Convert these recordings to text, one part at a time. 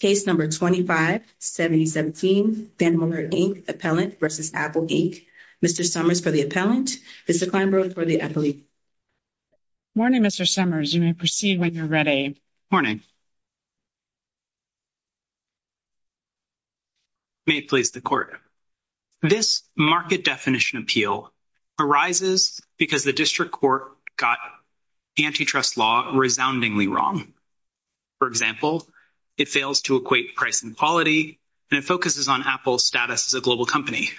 Case No. 25-7017, VANDEMALERT Inc. Appellant v. Apple Inc. Mr. Summers for the appellant. Mr. Kleinberg for the appellate. Morning, Mr. Summers. You may proceed when you're ready. Morning. May it please the Court. This market definition appeal arises because the district court got antitrust law resoundingly wrong. For example, it fails to equate price and quality, and it focuses on Apple's status as a global company.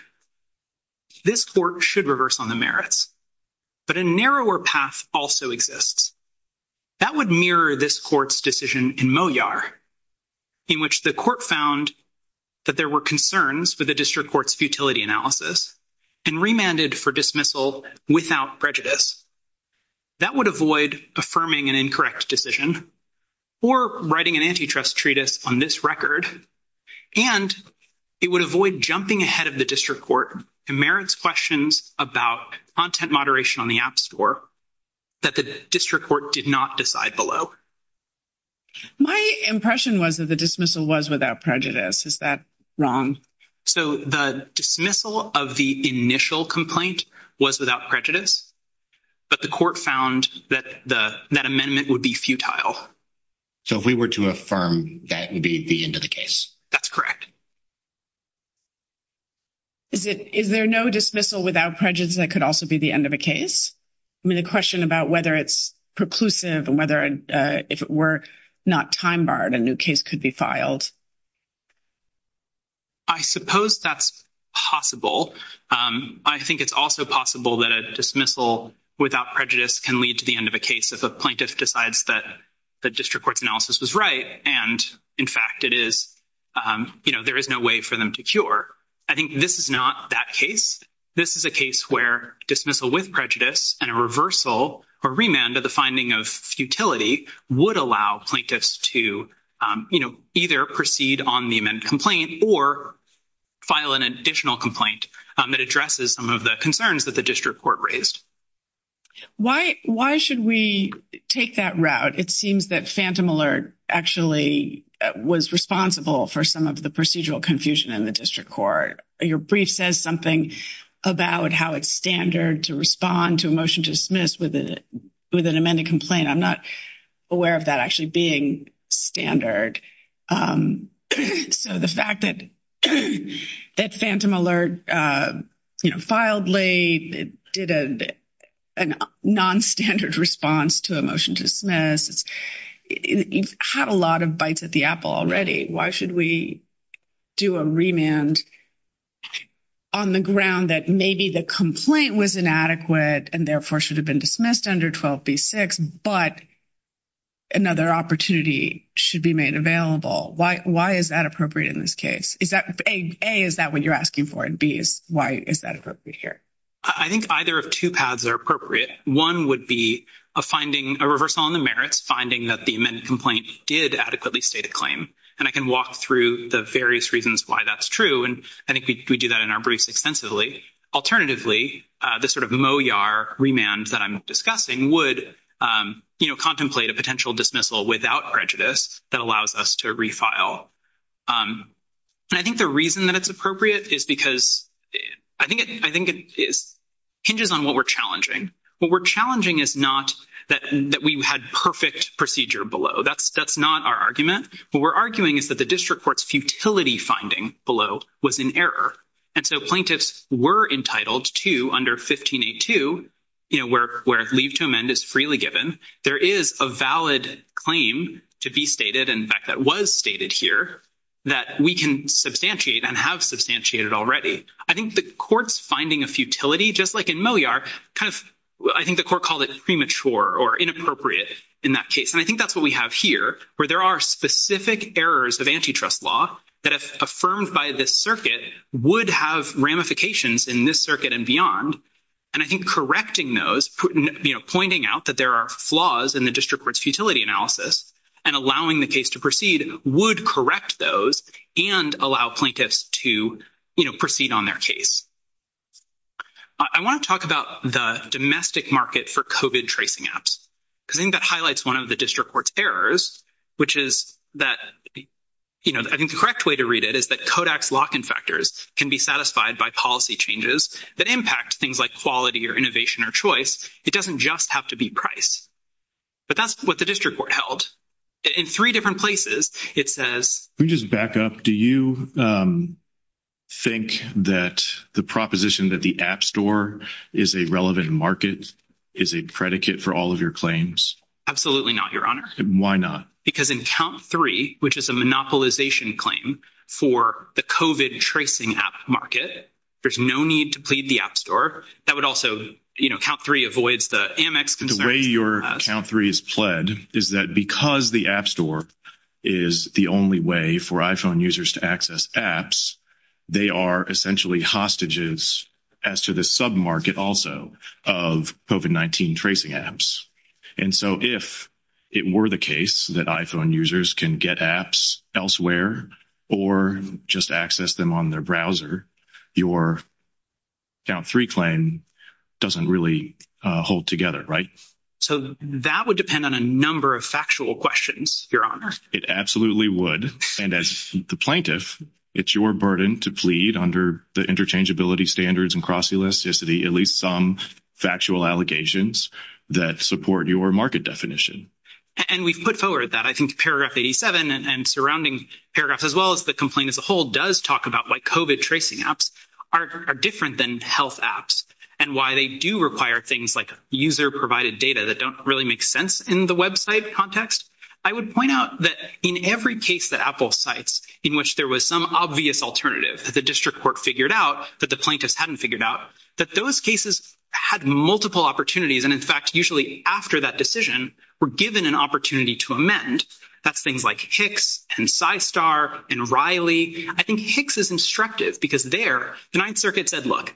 This Court should reverse on the merits, but a narrower path also exists. That would mirror this Court's decision in Moyar, in which the Court found that there were concerns for the district court's futility analysis, and remanded for dismissal without prejudice. That would avoid affirming an incorrect decision, or writing an antitrust treatise on this record, and it would avoid jumping ahead of the district court in merits questions about content moderation on the App Store that the district court did not decide below. My impression was that the dismissal was without prejudice. Is that wrong? So the dismissal of the initial complaint was without prejudice, but the Court found that the that amendment would be futile. So if we were to affirm that would be the end of the case? That's correct. Is it is there no dismissal without prejudice that could also be the end of a case? I mean the question about whether it's preclusive, and whether if it were not time-barred, a new case could be filed. I suppose that's possible. I think it's also possible that a dismissal without prejudice can lead to the end of a case if a plaintiff decides that the district court's analysis was right, and in fact it is, you know, there is no way for them to cure. I think this is not that case. This is a case where dismissal with prejudice and a reversal or remand of the finding of futility would allow plaintiffs to, you know, either proceed on the amended complaint or file an additional complaint that addresses some of the concerns that the district court raised. Why should we take that route? It seems that phantom alert actually was responsible for some of the procedural confusion in the district court. Your brief says something about how it's standard to respond to a motion to dismiss with an amended complaint. I'm not aware of that actually being standard. So the fact that phantom alert, you know, filed late, did a non-standard response to a motion to dismiss, it had a lot of bites at the apple already. Why should we do a remand on the ground that maybe the complaint was inadequate and therefore should have been dismissed under 12b-6, but another opportunity should be made available? Why is that appropriate in this case? A, is that what you're asking for? And B, why is that appropriate here? I think either of two paths are appropriate. One would be a finding, a reversal on the merits, finding that the amended complaint did adequately state a claim. And I can walk through the various reasons why that's true. And I think we do that in our briefs extensively. Alternatively, the sort of MOYAR remand that I'm discussing would, you know, contemplate a potential dismissal without prejudice that allows us to refile. And I think the reason that it's appropriate is because I think it hinges on what we're challenging. What we're challenging is not that we had perfect procedure below. That's not our argument. What we're arguing is that the district court's futility finding below was in error. And so plaintiffs were entitled to under 1582, you know, where leave to amend is freely given. There is a valid claim to be stated, in fact, that was stated here, that we can substantiate and have substantiated already. I think the court's finding of futility, just like in MOYAR, kind of, I think the court called it premature or inappropriate in that case. And I think that's what we have here, where there are specific errors of antitrust law that, if affirmed by this circuit, would have ramifications in this circuit and beyond. And I think correcting those, you know, pointing out that there are flaws in the district court's futility analysis and allowing the case to proceed would correct those and allow plaintiffs to, you know, proceed on their case. I want to talk about the domestic market for COVID that, you know, I think the correct way to read it is that Kodak's lock-in factors can be satisfied by policy changes that impact things like quality or innovation or choice. It doesn't just have to be price. But that's what the district court held. In three different places, it says... Can we just back up? Do you think that the proposition that the app store is a relevant market is a predicate for all of your claims? Absolutely not, Your Honor. Why not? Because in count three, which is a monopolization claim for the COVID tracing app market, there's no need to plead the app store. That would also, you know, count three avoids the Amex concerns. The way your count three is pled is that because the app store is the only way for iPhone users to access apps, they are essentially hostages as to the market also of COVID-19 tracing apps. And so if it were the case that iPhone users can get apps elsewhere or just access them on their browser, your count three claim doesn't really hold together, right? So that would depend on a number of factual questions, Your Honor. It absolutely would. And as the plaintiff, it's your burden to plead under the interchangeability standards and cross-elasticity, at least some factual allegations that support your market definition. And we've put forward that. I think paragraph 87 and surrounding paragraphs, as well as the complaint as a whole, does talk about why COVID tracing apps are different than health apps and why they do require things like user-provided data that don't really make sense in the website context. I would point out that in every case that Apple cites in which there was some obvious alternative that the district court figured out, that the plaintiffs hadn't figured out, that those cases had multiple opportunities. And in fact, usually after that decision, we're given an opportunity to amend. That's things like Hicks and Psystar and Riley. I think Hicks is instructive because there the Ninth Circuit said, look,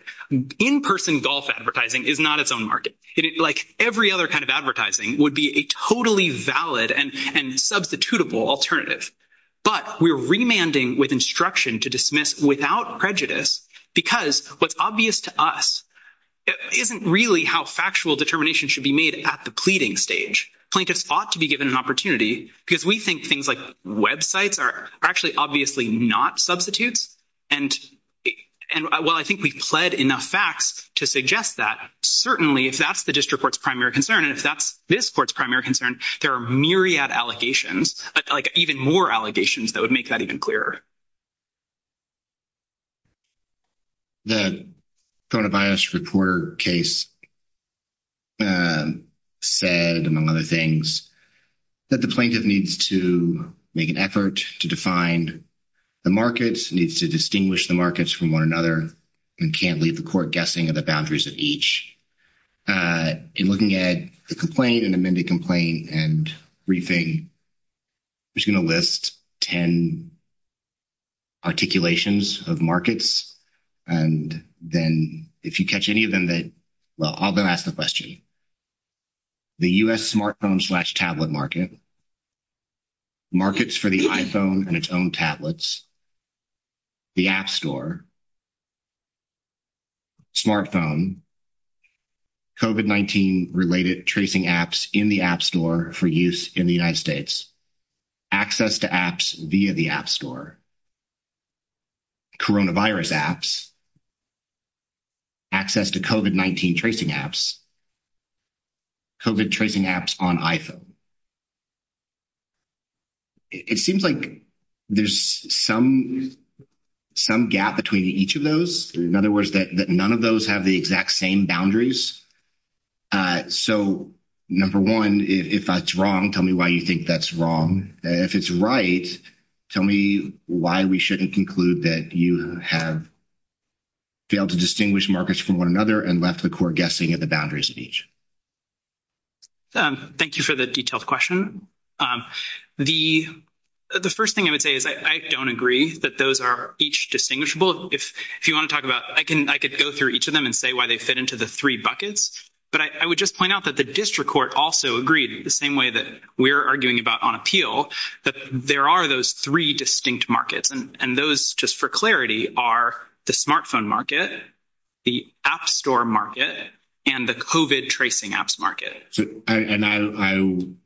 in-person golf advertising is not its own market. Like every other kind of advertising would be a totally valid and substitutable alternative. But we're remanding with instruction to dismiss without prejudice because what's obvious to us isn't really how factual determination should be made at the pleading stage. Plaintiffs ought to be given an opportunity because we think things like websites are actually obviously not substitutes. And while I think we've pled enough facts to suggest that, certainly if that's the district court's primary concern and if that's this court's primary concern, there are myriad allegations, like even more allegations that would make that even clearer. The coronavirus reporter case said, among other things, that the plaintiff needs to make an effort to define the markets, needs to distinguish the markets from one another, and can't leave the court guessing at the boundaries of each. In looking at the complaint and amended complaint and briefing, I'm just going to list 10 articulations of markets. And then if you catch any of them, well, I'll go ask the question. The U.S. smartphone-slash-tablet market, markets for the iPhone and its own tablets, the App Store, smartphone, COVID-19-related tracing apps in the App Store for use in the United States, access to apps via the App Store, coronavirus apps, access to COVID-19 tracing apps, COVID tracing apps on iPhone. It seems like there's some gap between each of those, in other words, that none of those have the exact same boundaries. So, number one, if that's wrong, tell me why you think that's wrong. If it's right, tell me why we shouldn't conclude that you have failed to distinguish markets from one another and left the court guessing at the boundaries of each. Thank you for the detailed question. The first thing I would say is I don't agree that those are each distinguishable. If you want to talk about, I could go through each of them and say why they fit into the three buckets. But I would just point out that the district court also agreed the same way that we're arguing about on appeal, that there are those three distinct markets. And those, just for clarity, are the smartphone market, the App Store market, and the COVID tracing apps market.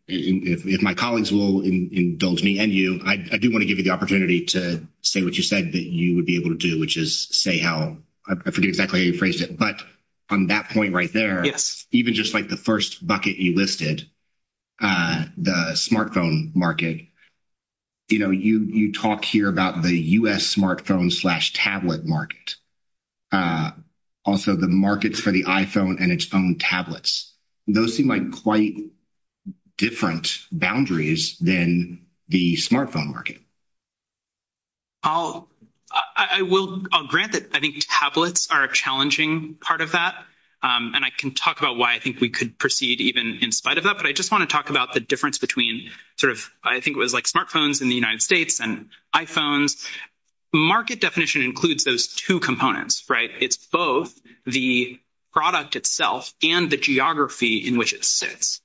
If my colleagues will indulge me and you, I do want to give you the opportunity to say what you said that you would be able to do, which is say how, I forget exactly how you phrased it, but on that point right there, even just like the first bucket you listed, the smartphone market, you talk here about the U.S. smartphone-slash-tablet market, also the markets for the iPhone and its own tablets. Those seem like quite different boundaries than the smartphone market. I'll grant that I think we could proceed even in spite of that, but I just want to talk about the difference between smartphones in the United States and iPhones. Market definition includes those two components. It's both the product itself and the geography in which it sits.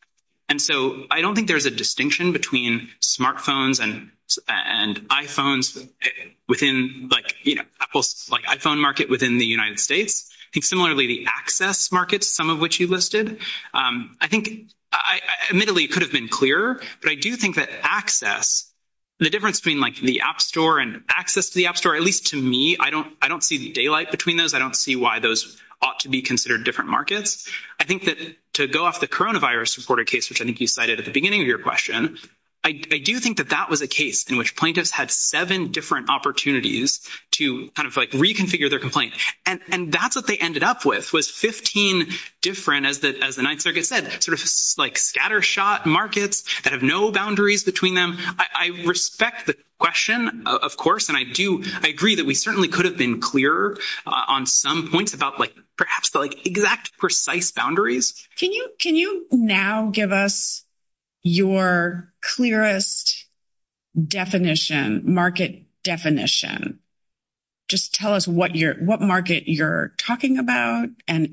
I don't think there's a distinction between smartphones and iPhones within Apple's iPhone market within the United States. Similarly, the access markets, some of which you listed, I think admittedly could have been clearer, but I do think that access, the difference between the App Store and access to the App Store, at least to me, I don't see the daylight between those. I don't see why those ought to be considered different markets. I think that to go off the coronavirus reported case, which I think you cited at the beginning of your question, I do think that that was a case in which plaintiffs had seven different opportunities to reconfigure their complaint. That's what they ended up with, was 15 different, as the Ninth Circuit said, scattershot markets that have no boundaries between them. I respect the question, of course, and I agree that we certainly could have been clearer on some points about perhaps the exact precise boundaries. Can you now give us your clearest market definition? Just tell us what market you're talking about, and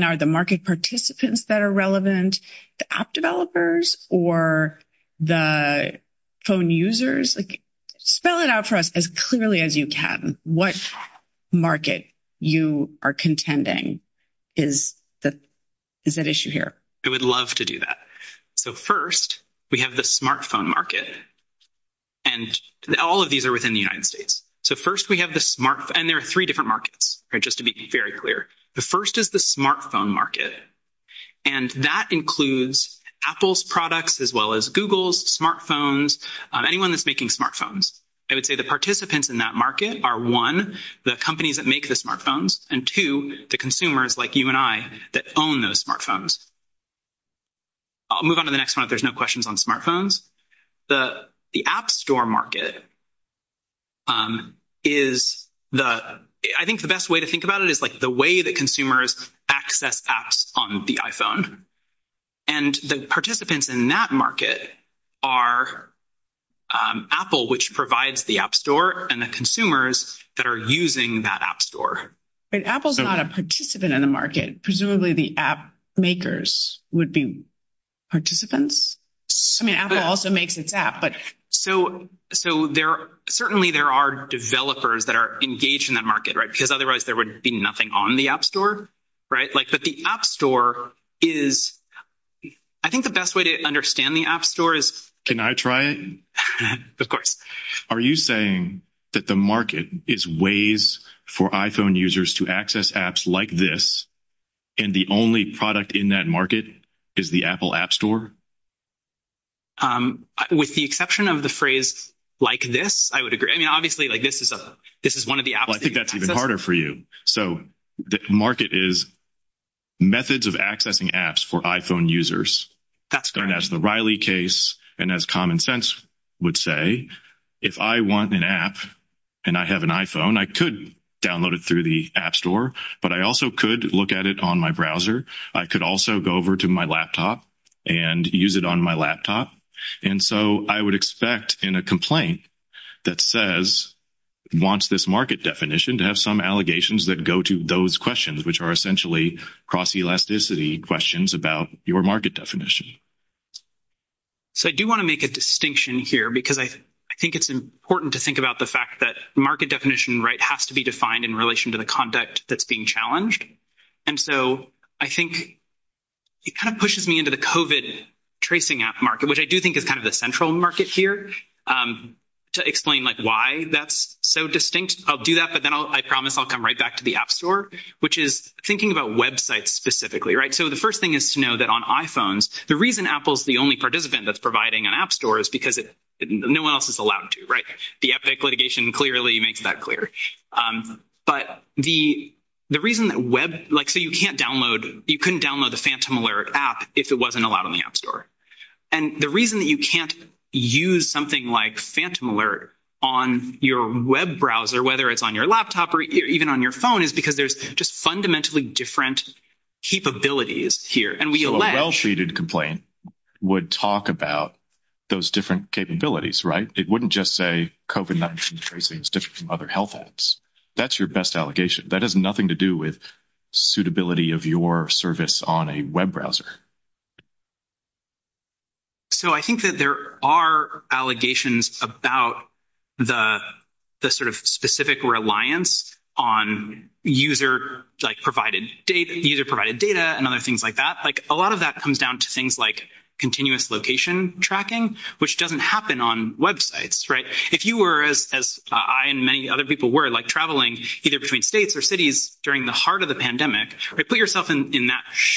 are the market participants that are relevant, the app developers or the phone users? Spell it out for us as clearly as you can. What market you are contending? Is that issue here? I would love to do that. First, we have the smartphone market, and all of these are within the United States. There are three different markets, just to be very clear. The first is the smartphone market, and that includes Apple's products as well as Google's smartphones, anyone that's making smartphones. I would say the participants in that market are, one, the companies that make the smartphones, and, two, the consumers, like you and I, that own those smartphones. I'll move on to the next one if there's no questions on smartphones. I think the best way to think about it is the way that consumers access apps on the iPhone, and the participants in that market are Apple, which provides the app store, and the consumers that are using that app store. But Apple's not a participant in the market. Presumably, the app makers would be participants. I mean, Apple also makes its app. Certainly, there are developers that are engaged in that market, because otherwise, there would be nothing on the app store. I think the best way to understand the app store is… Can I try it? Of course. Are you saying that the market is ways for iPhone users to access apps like this, and the only product in that market is the Apple app store? With the exception of the phrase, like this, I would agree. I mean, obviously, this is one of the apps… Well, I think that's even harder for you. The market is methods of accessing apps for iPhone users. That's the Riley case. As Common Sense would say, if I want an app and I have an iPhone, I could download it through the app store, but I also could look at it on my browser. I could also go over to my laptop and use it on my laptop. I would expect in a complaint that says it wants this market definition to have some allegations that go to those questions, which are essentially cross-elasticity questions about your market definition. So, I do want to make a distinction here, because I think it's important to think about the fact that market definition has to be defined in relation to the conduct that's being challenged. And so, I think it kind of pushes me into the COVID tracing app market, which I do think is kind of the central market here. To explain why that's so distinct, I'll do that, but then I promise I'll come right back to the app store, which is thinking about websites specifically, right? So, the first thing is to know that on iPhones, the reason Apple is the only participant that's providing an app store is because no one else is allowed to, right? The Epic litigation clearly makes that clear. But the reason that web… Like, so you can't download… You couldn't download the Phantom Alert app if it wasn't allowed on the app store. And the reason that you can't use something like Phantom Alert on your web browser, whether it's on your laptop or even on your phone, is because there's just fundamentally different capabilities here. And we allege… So, a well-treated complaint would talk about those different capabilities, right? It wouldn't just say COVID-19 tracing is different from other health apps. That's your best allegation. That has nothing to do with suitability of your service on a web browser. So, I think that there are allegations about the sort of specific reliance on user-provided data and other things like that. Like, a lot of that comes down to things like continuous location tracking, which doesn't happen on websites, right? If you were, as I and many other people were, like traveling either between states or cities during the heart of the pandemic, put yourself in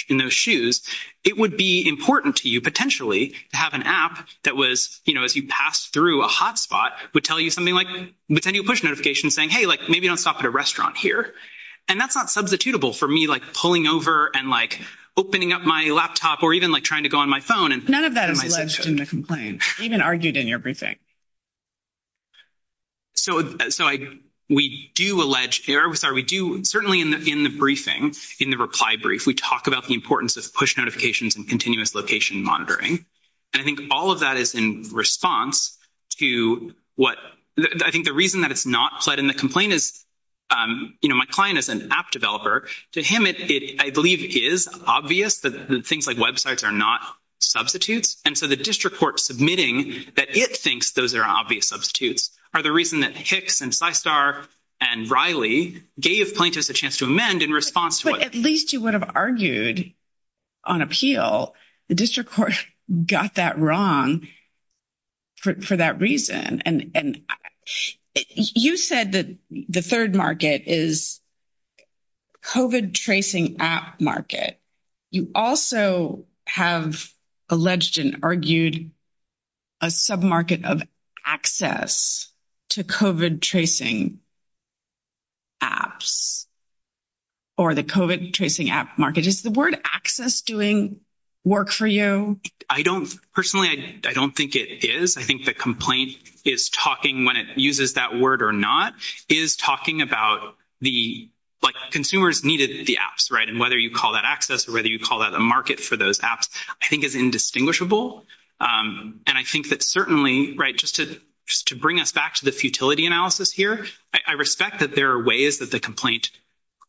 those shoes, it would be important to you, potentially, to have an app that was, you know, as you pass through a hotspot, would tell you something like, would send you a push notification saying, hey, like, maybe don't stop at a restaurant here. And that's not substitutable for me, like, pulling over and, like, opening up my laptop or even, like, trying to go on my phone and… None of that is alleged in the complaint. Even argued in your briefing. So, we do allege… Sorry, we do… Certainly, in the briefing, in the reply brief, we talk about the importance of push notifications and continuous location monitoring. And I think all of that is in response to what… I think the reason that it's not fled in the complaint is, you know, my client is an app developer. To him, it, I believe, is obvious that things like websites are not substitutes. And so, the district court submitting that it thinks that it's not substituting, those are obvious substitutes, are the reason that Hicks and Systar and Riley gave plaintiffs a chance to amend in response to what… But at least you would have argued on appeal. The district court got that wrong for that reason. And you said that the third market is COVID tracing app market. You also have alleged and argued a sub-market of access to COVID tracing apps or the COVID tracing app market. Is the word access doing work for you? I don't… Personally, I don't think it is. I think the complaint is talking, when it uses that word or not, is talking about the… Like, consumers needed the apps, right? And whether you call that access or whether you call that a market for those apps, I think is indistinguishable. And I think that certainly, right, just to bring us back to the futility analysis here, I respect that there are ways that the complaint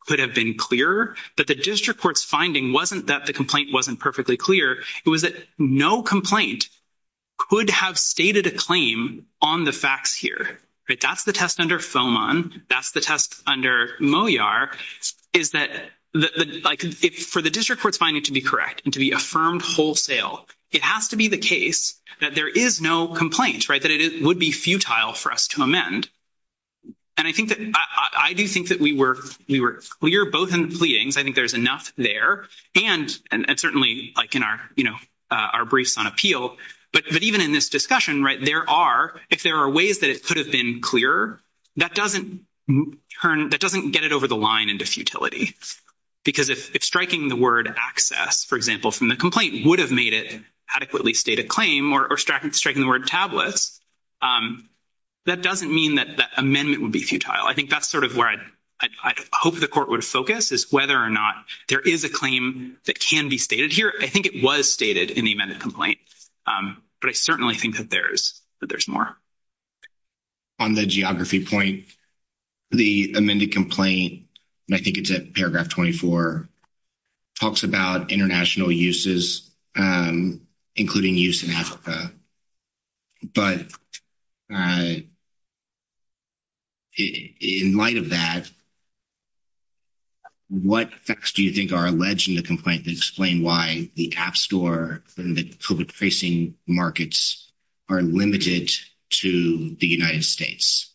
could have been clearer. But the district court's finding wasn't that the complaint wasn't perfectly clear. It was that no complaint could have stated a claim on the facts here, right? That's the test under FOMON. That's the test under MOYAR, is that, like, for the district court's finding to be correct and to be affirmed wholesale, it has to be the case that there is no complaint, right, that it would be futile for us to amend. And I think that… I do think that we were clear both in the pleadings. I think there's enough there. And certainly, like, in our, you know, our briefs on appeal. But even in this discussion, there are… if there are ways that it could have been clearer, that doesn't turn… that doesn't get it over the line into futility. Because if striking the word access, for example, from the complaint would have made it adequately state a claim or striking the word tablets, that doesn't mean that amendment would be futile. I think that's sort of where I'd hope the court would focus is whether or not there is a claim that can be stated here. I think it was stated in the amended complaint. But I certainly think that there's more. On the geography point, the amended complaint, and I think it's at paragraph 24, talks about international uses, including use in Africa. But in light of that, what facts do you think are alleged in the complaint that explain why the app store and the COVID tracing markets are limited to the United States?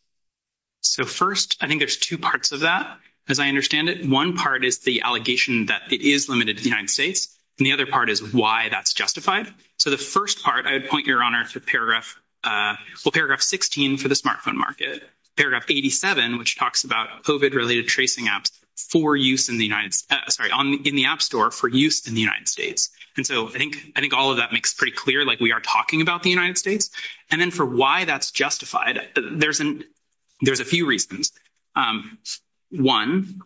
So, first, I think there's two parts of that, as I understand it. One part is the allegation that it is limited to the United States. And the other part is why that's justified. So, the first part, I would point your honor to paragraph… well, paragraph 16 for the smartphone market. Paragraph 87, which talks about COVID-related tracing apps for use in the United… sorry, in the app store for use in the United States. And so, I think all of that makes pretty clear, like we are talking about the United States. And then for why that's justified, there's a few reasons. One,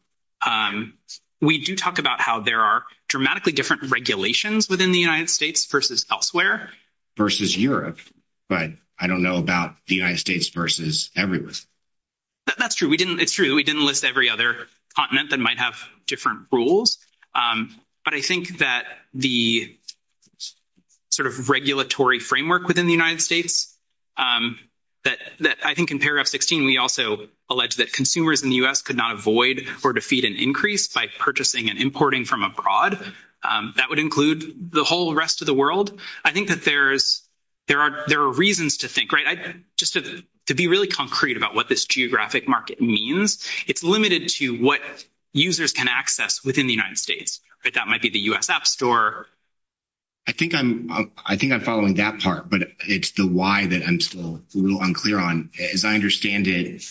we do talk about how there are dramatically different regulations within the United States versus elsewhere. Versus Europe, but I don't know about the United States versus everywhere. That's true. It's true. We didn't list every other continent that might have different rules. But I think that the sort of regulatory framework within the United States, that I think in paragraph 16, we also allege that consumers in the U.S. could not avoid or defeat an increase by purchasing and importing from abroad. That would include the whole rest of the world. I think that there are reasons to think, right? Just to be really concrete about what this geographic market means, it's limited to what users can access within the United States. That might be the U.S. app store. I think I'm following that part, but it's the why that I'm still a little unclear on. As I understand it,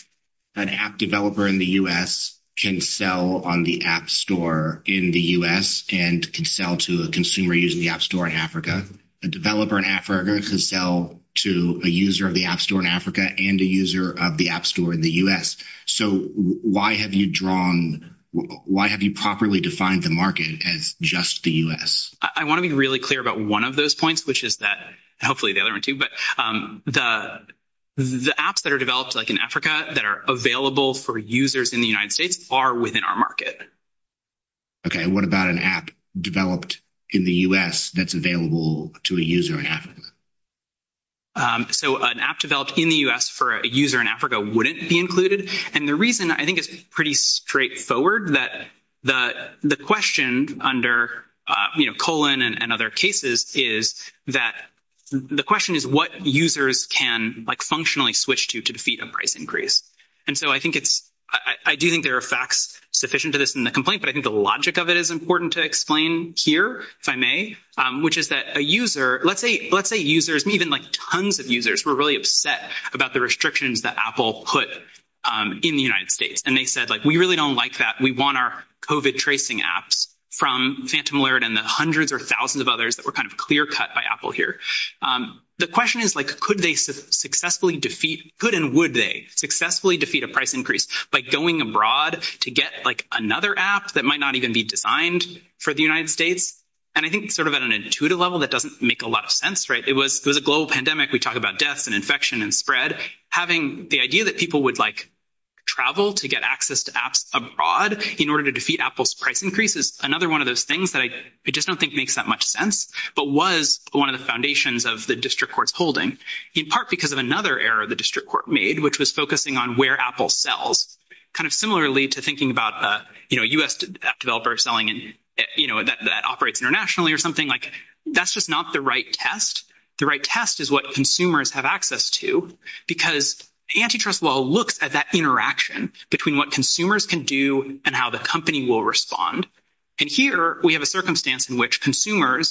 an app developer in the U.S. can sell on the app store in the U.S. and can sell to a consumer using the app store in Africa. A developer in Africa can sell to a user of the app store in Africa and a user of the app store in the U.S. So, why have you drawn, why have you properly defined the market as just the U.S.? I want to be really clear about one of those points, which is that, hopefully the other one too, but the apps that are developed like in Africa that are available for users in the United States are within our market. Okay. What about an app developed in the U.S. that's available to a user in Africa? So, an app developed in the U.S. for a user in Africa wouldn't be included. And the reason I think is pretty straightforward that the question under, you know, colon and other cases is that the question is what users can like functionally switch to to defeat a price increase. And so, I think it's, I do think there are facts sufficient to this in the complaint, but I think the logic of it is important to explain here, if I may, which is that a user, let's say, let's say users, even like tons of users were really upset about the restrictions that Apple put in the United States. And they said, like, we really don't like that. We want our COVID tracing apps from Phantom Alert and the hundreds or thousands of others that were kind of clear cut by Apple here. The question is, like, could they successfully defeat, could and would they successfully defeat a price increase by going abroad to get, like, another app that might not even be designed for the United States? And I think sort of at an intuitive level, that doesn't make a lot of sense, right? It was a global pandemic. We talk about deaths and infection and spread. Having the idea that people would, like, travel to get access to apps abroad in order to defeat Apple's price increase is another one of those things that I just don't think makes that much sense, but was one of the foundations of the district court's holding, in part because of another error the district court made, which was focusing on where Apple sells, kind of similarly to thinking about, you know, a U.S. app developer selling in, you know, that operates internationally or something. Like, that's just not the right test. The right test is what consumers have access to because antitrust law looks at that interaction between what consumers can do and how the company will respond. And here, we have a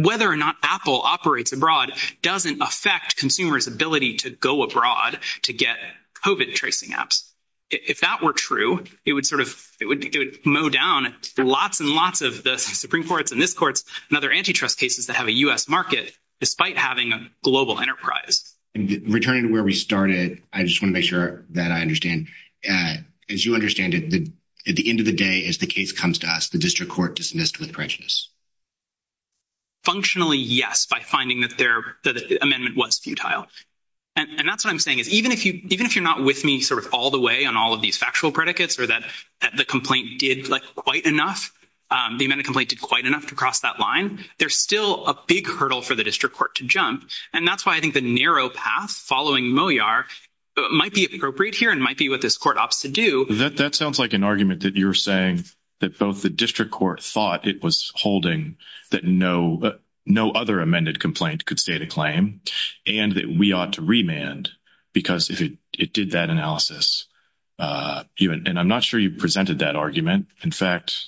whether or not Apple operates abroad doesn't affect consumers' ability to go abroad to get COVID tracing apps. If that were true, it would sort of, it would mow down lots and lots of the Supreme Courts and this court's and other antitrust cases that have a U.S. market, despite having a global enterprise. Returning to where we started, I just want to make sure that I understand. As you understand it, at the end of the day, as the case comes to us, the district court dismissed with prejudice? Functionally, yes, by finding that their amendment was futile. And that's what I'm saying is, even if you're not with me sort of all the way on all of these factual predicates or that the complaint did, like, quite enough, the amendment complaint did quite enough to cross that line, there's still a big hurdle for the district court to jump. And that's why I think the narrow path following Moyar might be appropriate here and might be what this court opts to do. That sounds like an argument that you're saying, that both the district court thought it was holding that no other amended complaint could state a claim and that we ought to remand because it did that analysis. And I'm not sure you presented that argument. In fact,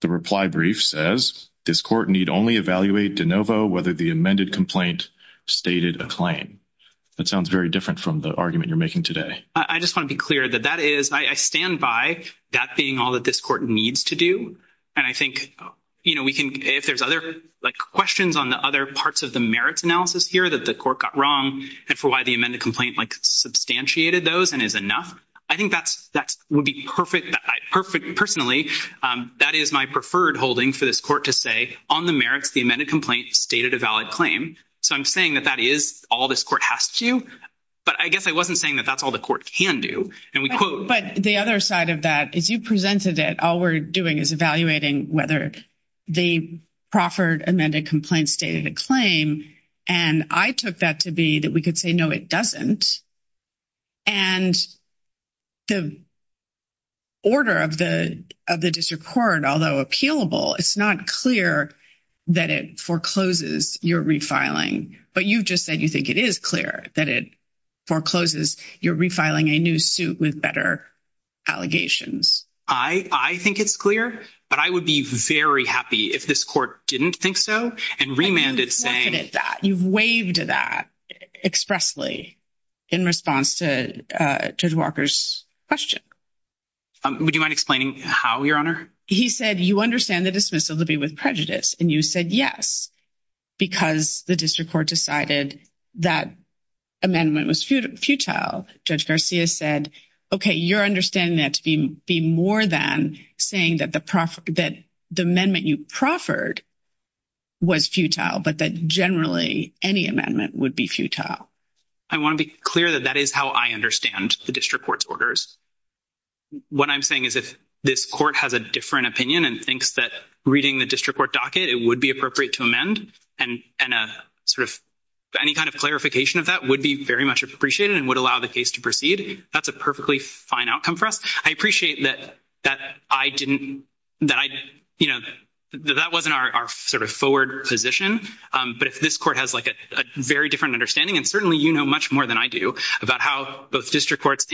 the reply brief says, this court need only evaluate de novo whether the amended complaint stated a claim. That sounds very different from the argument you're making today. I just want to be clear that that is, I stand by that being all that this court needs to do. And I think, you know, we can, if there's other, like, questions on the other parts of the merits analysis here that the court got wrong and for why the amended complaint, like, substantiated those and is enough, I think that would be perfect. Personally, that is my preferred holding for this court to say, on the merits, the amended complaint stated a valid claim. So I'm saying that is all this court has to do. But I guess I wasn't saying that that's all the court can do. But the other side of that is you presented it. All we're doing is evaluating whether the proffered amended complaint stated a claim. And I took that to be that we could say, no, it doesn't. And the order of the district court, although appealable, it's not clear that it forecloses your refiling. But you've just said you think it is clear that it forecloses your refiling a new suit with better allegations. I think it's clear, but I would be very happy if this court didn't think so and remanded saying. You've waived that expressly in response to Judge Walker's question. Would you mind explaining how, Your Honor? He said you understand the dismissal to be with prejudice. And you said yes, because the district court decided that amendment was futile. Judge Garcia said, okay, you're understanding that to be more than saying that the amendment you proffered was futile, but that generally any amendment would be futile. I want to be clear that that is how I understand the district court's orders. What I'm saying is if this court has a different opinion and thinks that reading the district court docket, it would be appropriate to amend, and any kind of clarification of that would be very much appreciated and would allow the case to proceed, that's a perfectly fine outcome for us. I appreciate that that wasn't our forward position. But if this court has a very different understanding, and certainly you know much more than I do about how both district courts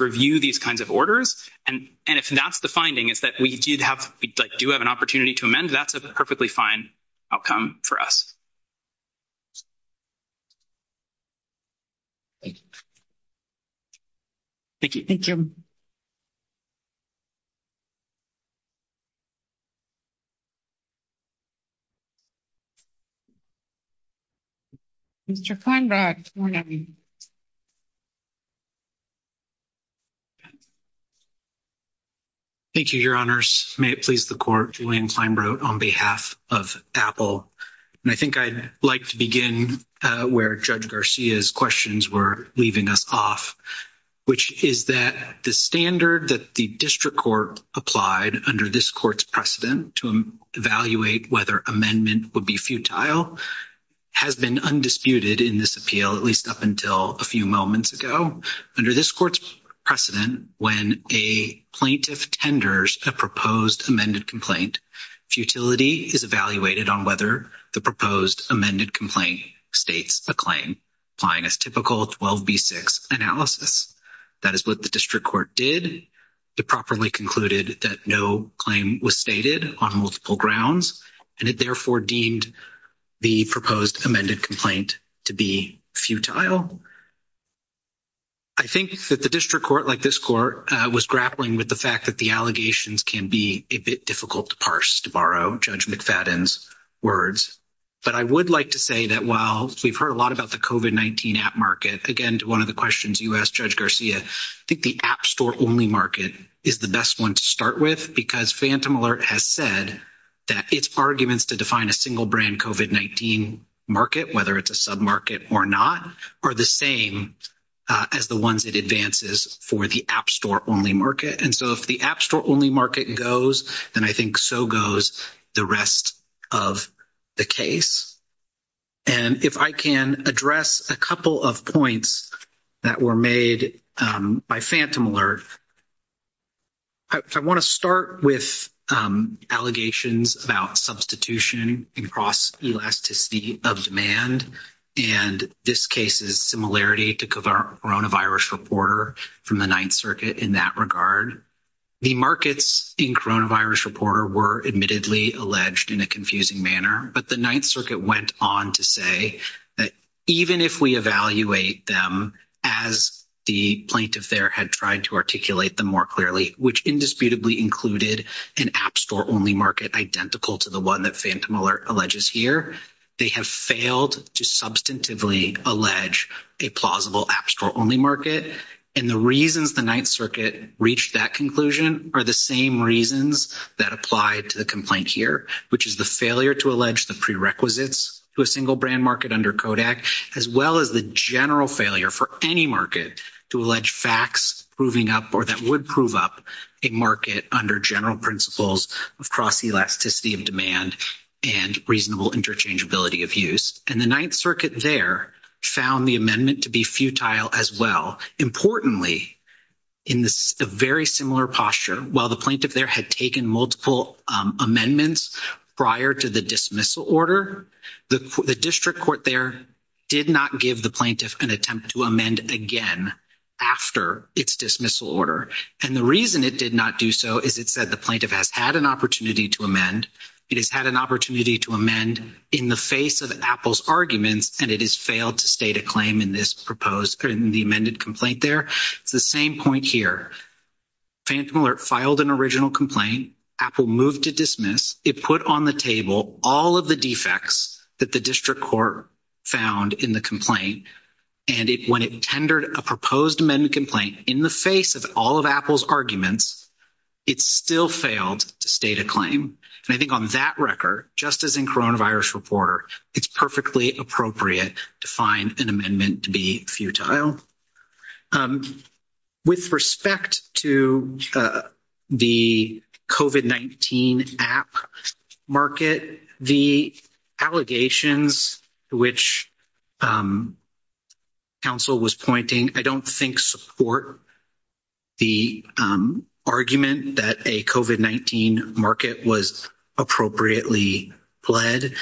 review these kinds of orders, and if that's the finding is that we do have an opportunity to amend, that's a perfectly fine outcome for us. Thank you. Thank you. Thank you, your honors. May it please the court, Julian Kleinbrodt on behalf of Apple. And I think I'd like to begin where Judge Garcia's questions were leaving us off, which is that the standard that the district court applied under this court's precedent to evaluate whether amendment would be futile has been undisputed in this appeal, at least up until a few moments ago. Under this court's precedent, when a plaintiff tenders a proposed amended complaint, futility is evaluated on whether the proposed amended complaint states a claim, applying as typical 12b6 analysis. That is what the district court did. It properly concluded that no claim was stated on multiple grounds, and it therefore deemed the proposed amended complaint to be futile. I think that the district court, like this court, was grappling with the fact that the allegations can be a bit of words. But I would like to say that while we've heard a lot about the COVID-19 app market, again, to one of the questions you asked, Judge Garcia, I think the app store-only market is the best one to start with, because Phantom Alert has said that its arguments to define a single-brand COVID-19 market, whether it's a sub-market or not, are the same as the ones it advances for the app store-only market. And so if the app store-only market goes, then I think so goes the rest of the case. And if I can address a couple of points that were made by Phantom Alert. I want to start with allegations about substitution and cross-elasticity of demand, and this case's similarity to Coronavirus Reporter from the Ninth Circuit in that regard. The markets in Coronavirus Reporter were admittedly alleged in a confusing manner, but the Ninth Circuit went on to say that even if we evaluate them as the plaintiff there had tried to articulate them more clearly, which indisputably included an app store-only market identical to the one that Phantom Alert alleges here, they have failed to substantively allege a plausible app store-only market. And the reasons the Ninth Circuit reached that conclusion are the same reasons that apply to the complaint here, which is the failure to allege the prerequisites to a single-brand market under Kodak, as well as the general failure for any market to allege facts proving up or that would prove up a market under general principles of cross-elasticity of demand and reasonable interchangeability of use. And the Ninth Circuit there found the amendment to be futile as well. Importantly, in this very similar posture, while the plaintiff there had taken multiple amendments prior to the dismissal order, the district court there did not give the plaintiff an attempt to amend again after its dismissal order. And the reason it did not do so is it said the plaintiff has had an opportunity to amend. It has had an opportunity to amend in the face of Apple's arguments, and it has failed to state a claim in this proposed, in the amended complaint there. It's the same point here. Phantom Alert filed an original complaint. Apple moved to dismiss. It put on the table all of the defects that the district court found in the complaint, and when it tendered a proposed amendment complaint in the face of all of Apple's arguments, it still failed to state a claim. And I think on that record, just as in coronavirus reporter, it's perfectly appropriate to find an amendment to be futile. With respect to the COVID-19 app market, the allegations which counsel was pointing, I don't think support the argument that a COVID-19 market was appropriately led.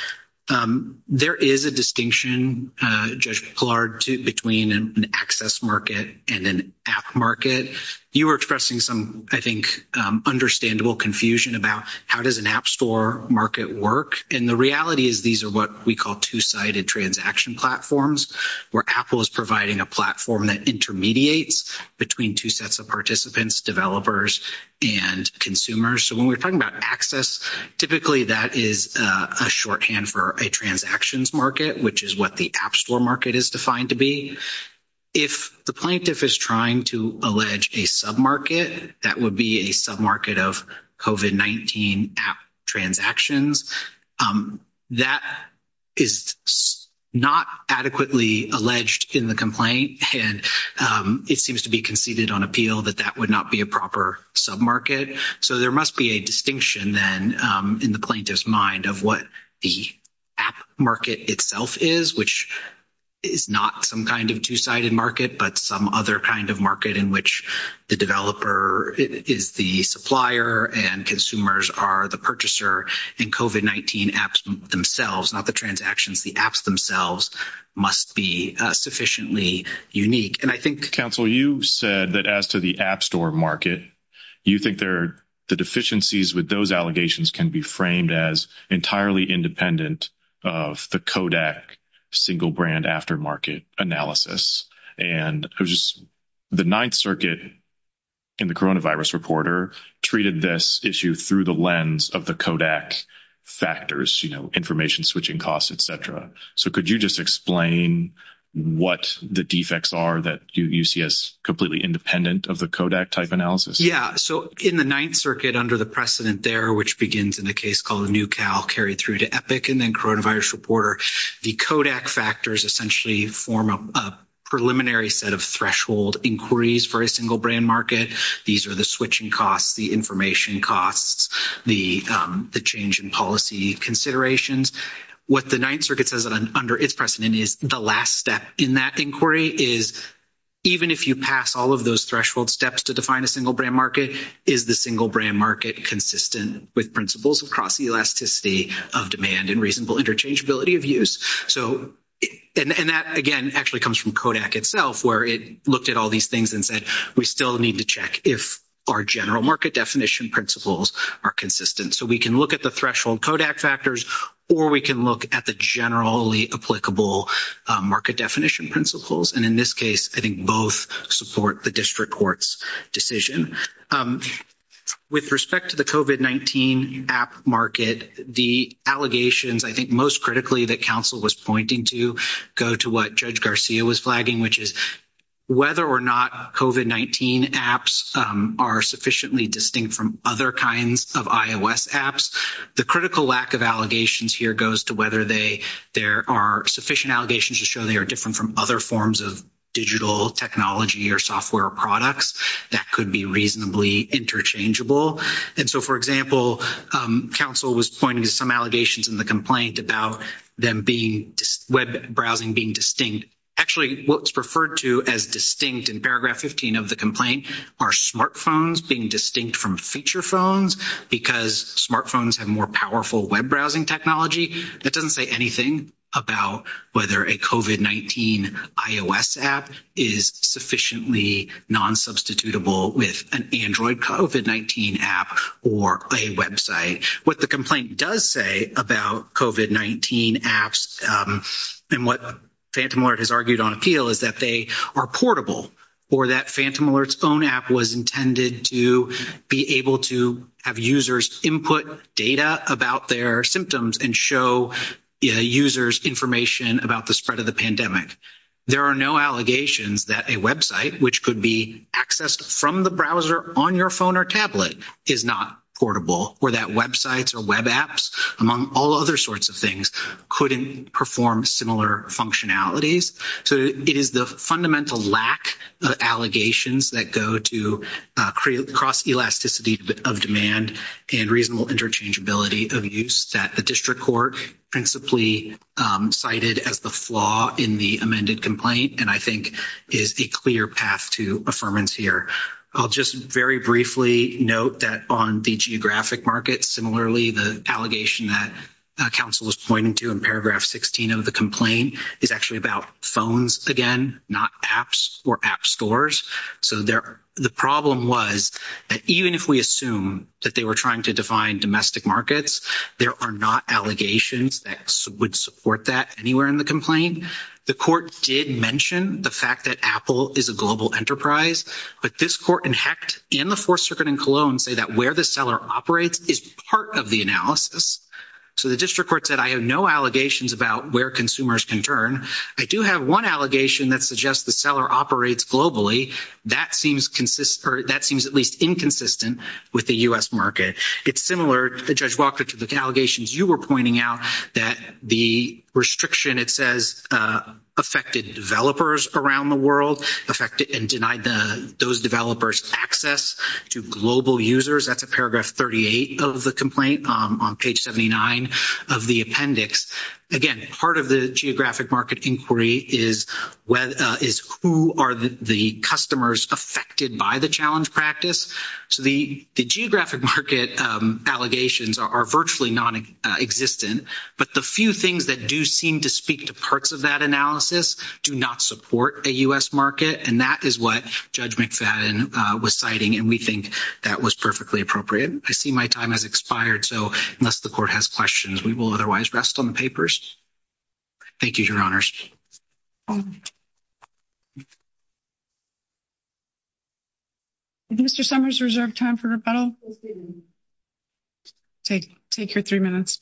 There is a distinction, Judge Pillard, between an access market and an app market. You were expressing some, I think, understandable confusion about how does an app store market work, and the reality is these are what we call two-sided transaction platforms, where Apple is providing a platform that intermediates between two sets of participants, developers, and consumers. So when we're talking about access, typically that is a shorthand for a transactions market, which is what the app store market is defined to be. If the plaintiff is trying to allege a sub-market, that would be a sub-market of COVID-19 app transactions, that is not adequately alleged in the complaint, and it seems to be conceded on appeal that that would not be a proper sub-market. So there must be a distinction then in the plaintiff's mind of what the app market itself is, which is not some kind of two-sided market, but some other kind of market in which the developer is the supplier and consumers are the purchaser, and COVID-19 apps themselves, not the transactions, the apps themselves must be sufficiently unique, and I think Counsel, you said that as to the app store market, you think the deficiencies with those allegations can be framed as entirely independent of the Kodak single brand aftermarket analysis, and it was just the Ninth Circuit and the coronavirus reporter treated this issue through the lens of the Kodak factors, you know, information switching costs, et cetera. So could you just explain what the defects are that you see as completely independent of the Kodak type analysis? Yeah, so in the Ninth Circuit under the precedent there, which begins in a case called NewCal carried through to Epic and then coronavirus reporter, the Kodak factors essentially form a preliminary set of threshold inquiries for a single brand market. These are the switching costs, the information costs, the change in policy considerations. What the Ninth Circuit says under its precedent is the last step in that inquiry is even if you pass all of those threshold steps to define a single brand market, is the single brand market consistent with principles across the elasticity of demand and reasonable interchangeability of use? And that, again, actually comes from Kodak itself, where it looked at all these things and said we still need to check if our general market definition principles are consistent. So we can look at the threshold Kodak factors, or we can look at the generally applicable market definition principles, and in this case I think both support the district court's decision. With respect to the COVID-19 app market, the allegations I think most critically that counsel was pointing to go to what Judge Garcia was flagging, which is whether or not COVID-19 apps are sufficiently distinct from other kinds of iOS apps. The critical lack of allegations here goes to whether there are sufficient allegations to show they are different from other forms of digital technology or software products that could be reasonably interchangeable. And so, for example, counsel was pointing to some allegations in the complaint about them being web browsing being distinct. Actually, what's referred to as distinct in paragraph 15 of the complaint are smartphones being distinct from feature phones because smartphones have more powerful web browsing technology. That doesn't say anything about whether a COVID-19 iOS app is sufficiently non-substitutable with an Android COVID-19 app or a website. What the complaint does say about COVID-19 apps and what Phantom Alert has argued on appeal is that they are portable or that Phantom and show users information about the spread of the pandemic. There are no allegations that a website, which could be accessed from the browser on your phone or tablet, is not portable or that websites or web apps, among all other sorts of things, couldn't perform similar functionalities. So it is the fundamental lack of allegations that go to cross-elasticity of demand and reasonable interchangeability of use that the district court principally cited as the flaw in the amended complaint and I think is a clear path to affirmance here. I'll just very briefly note that on the geographic market, similarly, the allegation that counsel was pointing to in paragraph 16 of the complaint is actually about phones, again, not apps or app trying to define domestic markets. There are not allegations that would support that anywhere in the complaint. The court did mention the fact that Apple is a global enterprise, but this court and HECT and the Fourth Circuit in Cologne say that where the seller operates is part of the analysis. So the district court said I have no allegations about where consumers can turn. I do have one allegation that suggests the seller operates globally. That seems at least inconsistent with the U.S. market. It's similar, Judge Walker, to the allegations you were pointing out that the restriction, it says, affected developers around the world and denied those developers access to global users. That's in paragraph 38 of the complaint on page 79 of the appendix. Again, part of the geographic market inquiry is who are the customers affected by the challenge practice. So the geographic market allegations are virtually nonexistent, but the few things that do seem to speak to parts of that analysis do not support a U.S. market, and that is what Judge McFadden was citing, and we think that was perfectly appropriate. I see my time has expired, so unless the court has questions, we will otherwise rest on the papers. Thank you, Your Honors. Is Mr. Summers reserved time for rebuttal? Take your three minutes.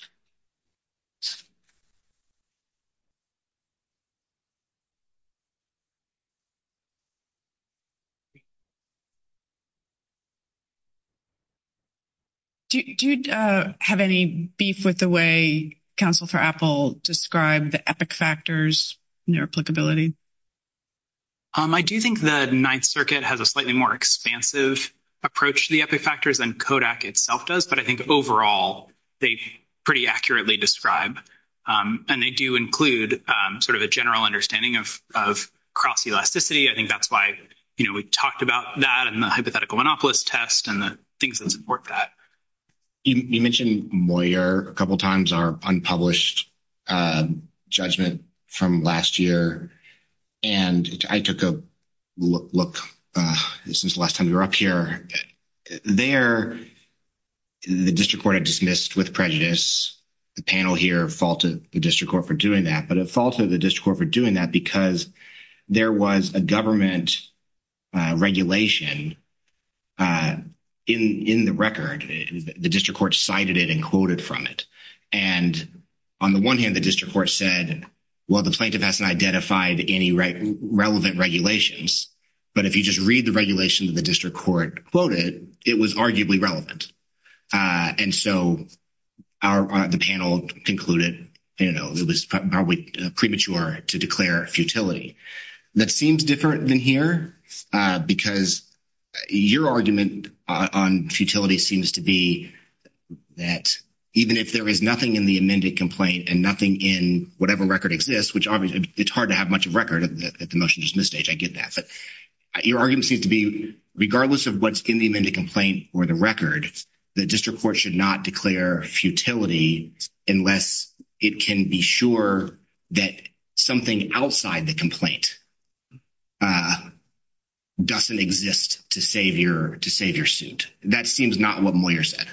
Do you have any beef with the way counsel for Apple described the epic factors and their applicability? I do think the Ninth Circuit has a slightly more expansive approach to the epic factors than Kodak itself does, but I think overall they pretty accurately describe, and they do include sort of a general understanding of cross-elasticity. I think that's why, you know, we talked about that and the hypothetical monopolist test and the things that support that. You mentioned Moyer a couple times, our unpublished judgment from last year, and I took a look since the last time we were up here. There, the district court dismissed with prejudice. The panel here faulted the district court for doing that, but it faulted the district court for doing that because there was a government regulation in the record. The district court cited it and quoted from it, and on the one hand, the district court said, well, the plaintiff hasn't identified any relevant regulations, but if you just read the regulation that the district court quoted, it was arguably relevant, and so the panel concluded, you know, it was probably premature to declare futility. That seems different than here because your argument on futility seems to be that even if there is nothing in the amended complaint and nothing in whatever record exists, which obviously it's hard to have much of record at the motion dismiss stage, I get that, but your argument seems to be regardless of what's in the amended complaint or the record, the district court should not declare futility unless it can be sure that something outside the complaint doesn't exist to save your suit. That seems not what Moyer said.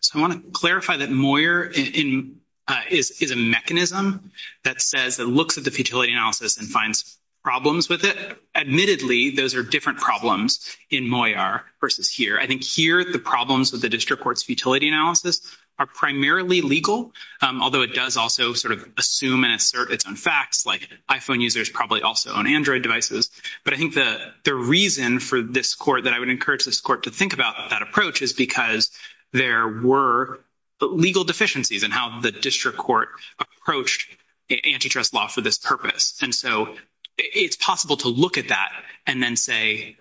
So I want to clarify that Moyer is a mechanism that says it looks at the futility analysis and finds problems with it. Admittedly, those are different problems in Moyer versus here. I think here, the problems with the district court's futility analysis are primarily legal, although it does also sort of assume and assert its own facts, like iPhone users probably also own Android devices, but I think the reason for this court that I would encourage this court to think about that approach is because there were legal deficiencies in how the district court approached antitrust law for this purpose, and so it's possible to look at that and then say,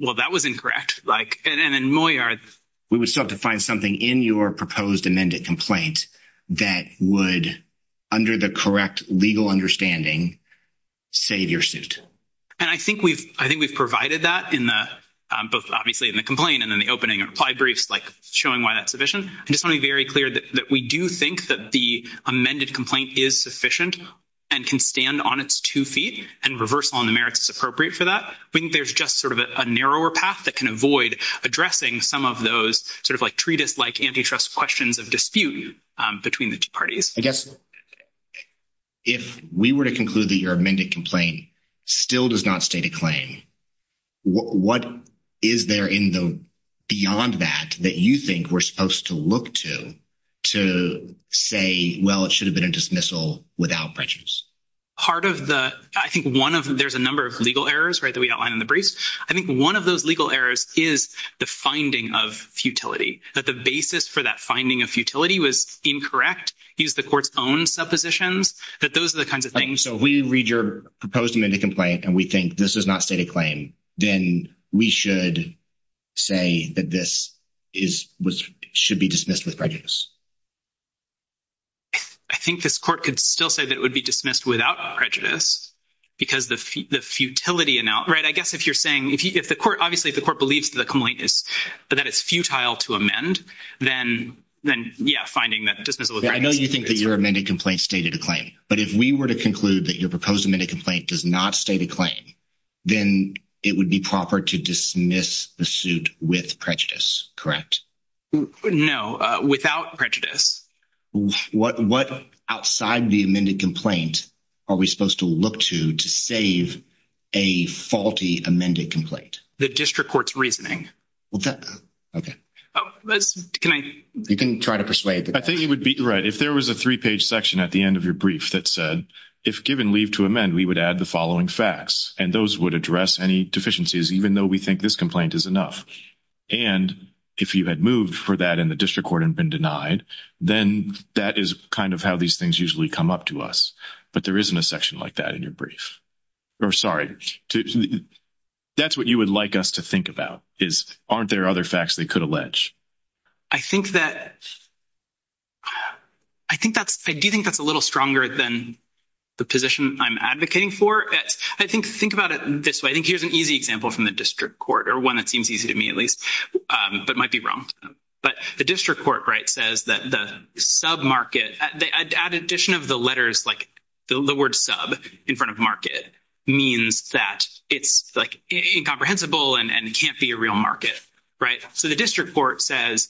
well, that was incorrect, like, and then Moyer. We would still have to find something in your proposed amended complaint that would, under the correct legal understanding, save your suit. And I think we've provided that in the, both obviously in the complaint and in the opening reply briefs, like showing why that's sufficient. I just want to be very clear that we do think that the amended complaint is sufficient and can stand on its two feet, and reversal on the merits is appropriate for that. I think there's just sort of a narrower path that can avoid addressing some of sort of like treatise-like antitrust questions of dispute between the two parties. I guess if we were to conclude that your amended complaint still does not state a claim, what is there in the, beyond that, that you think we're supposed to look to to say, well, it should have been a dismissal without prejudice? Part of the, I think one of, there's a number of legal errors, right, that we outline in the briefs. I think one of those legal errors is the finding of futility, that the basis for that finding of futility was incorrect, used the court's own suppositions, that those are the kinds of things. So if we read your proposed amended complaint and we think this does not state a claim, then we should say that this is, should be dismissed with prejudice. I think this court could still say that it would be dismissed without prejudice, because the futility, right, I guess if you're saying, if the court, obviously if the court believes that the complaint is, that it's futile to amend, then yeah, finding that dismissal. I know you think that your amended complaint stated a claim, but if we were to conclude that your proposed amended complaint does not state a claim, then it would be proper to dismiss the suit with prejudice, correct? No, without prejudice. What outside the amended complaint are we supposed to look to to save a faulty amended complaint? The district court's reasoning. Okay. You can try to persuade them. I think it would be, right, if there was a three-page section at the end of your brief that said, if given leave to amend, we would add the following facts, and those would address any deficiencies, even though we think this complaint is enough. And if you had moved for that in the that is kind of how these things usually come up to us. But there isn't a section like that in your brief. Or sorry, that's what you would like us to think about, is aren't there other facts they could allege? I think that, I think that's, I do think that's a little stronger than the position I'm advocating for. I think, think about it this way. I think here's an easy example from the district court, or one that seems easy to me at least, but might be wrong. But the district court, says that the sub-market, add addition of the letters, like the word sub in front of market means that it's incomprehensible and can't be a real market. So the district court says,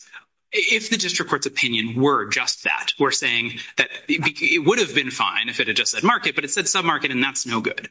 if the district court's opinion were just that, we're saying that it would have been fine if it had just said market, but it said sub-market, and that's no good.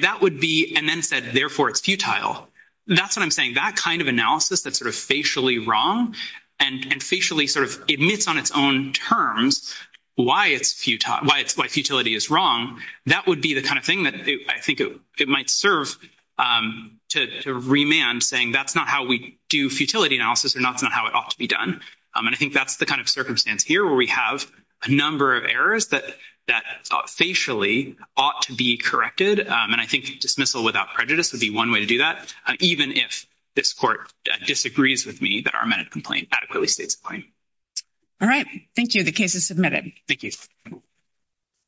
That would be, and then said, therefore, it's futile. That's what I'm saying. That kind of analysis that's sort of facially wrong, and facially sort of admits on its own terms why it's futile, why it's like futility is wrong. That would be the kind of thing that I think it might serve to remand saying that's not how we do futility analysis, or that's not how it ought to be done. And I think that's the kind of circumstance here where we have a number of errors that facially ought to be corrected. And I think dismissal without prejudice would be one way to do that. Even if this court disagrees with me that our amended complaint adequately states the claim. All right. Thank you. The case is submitted. Thank you.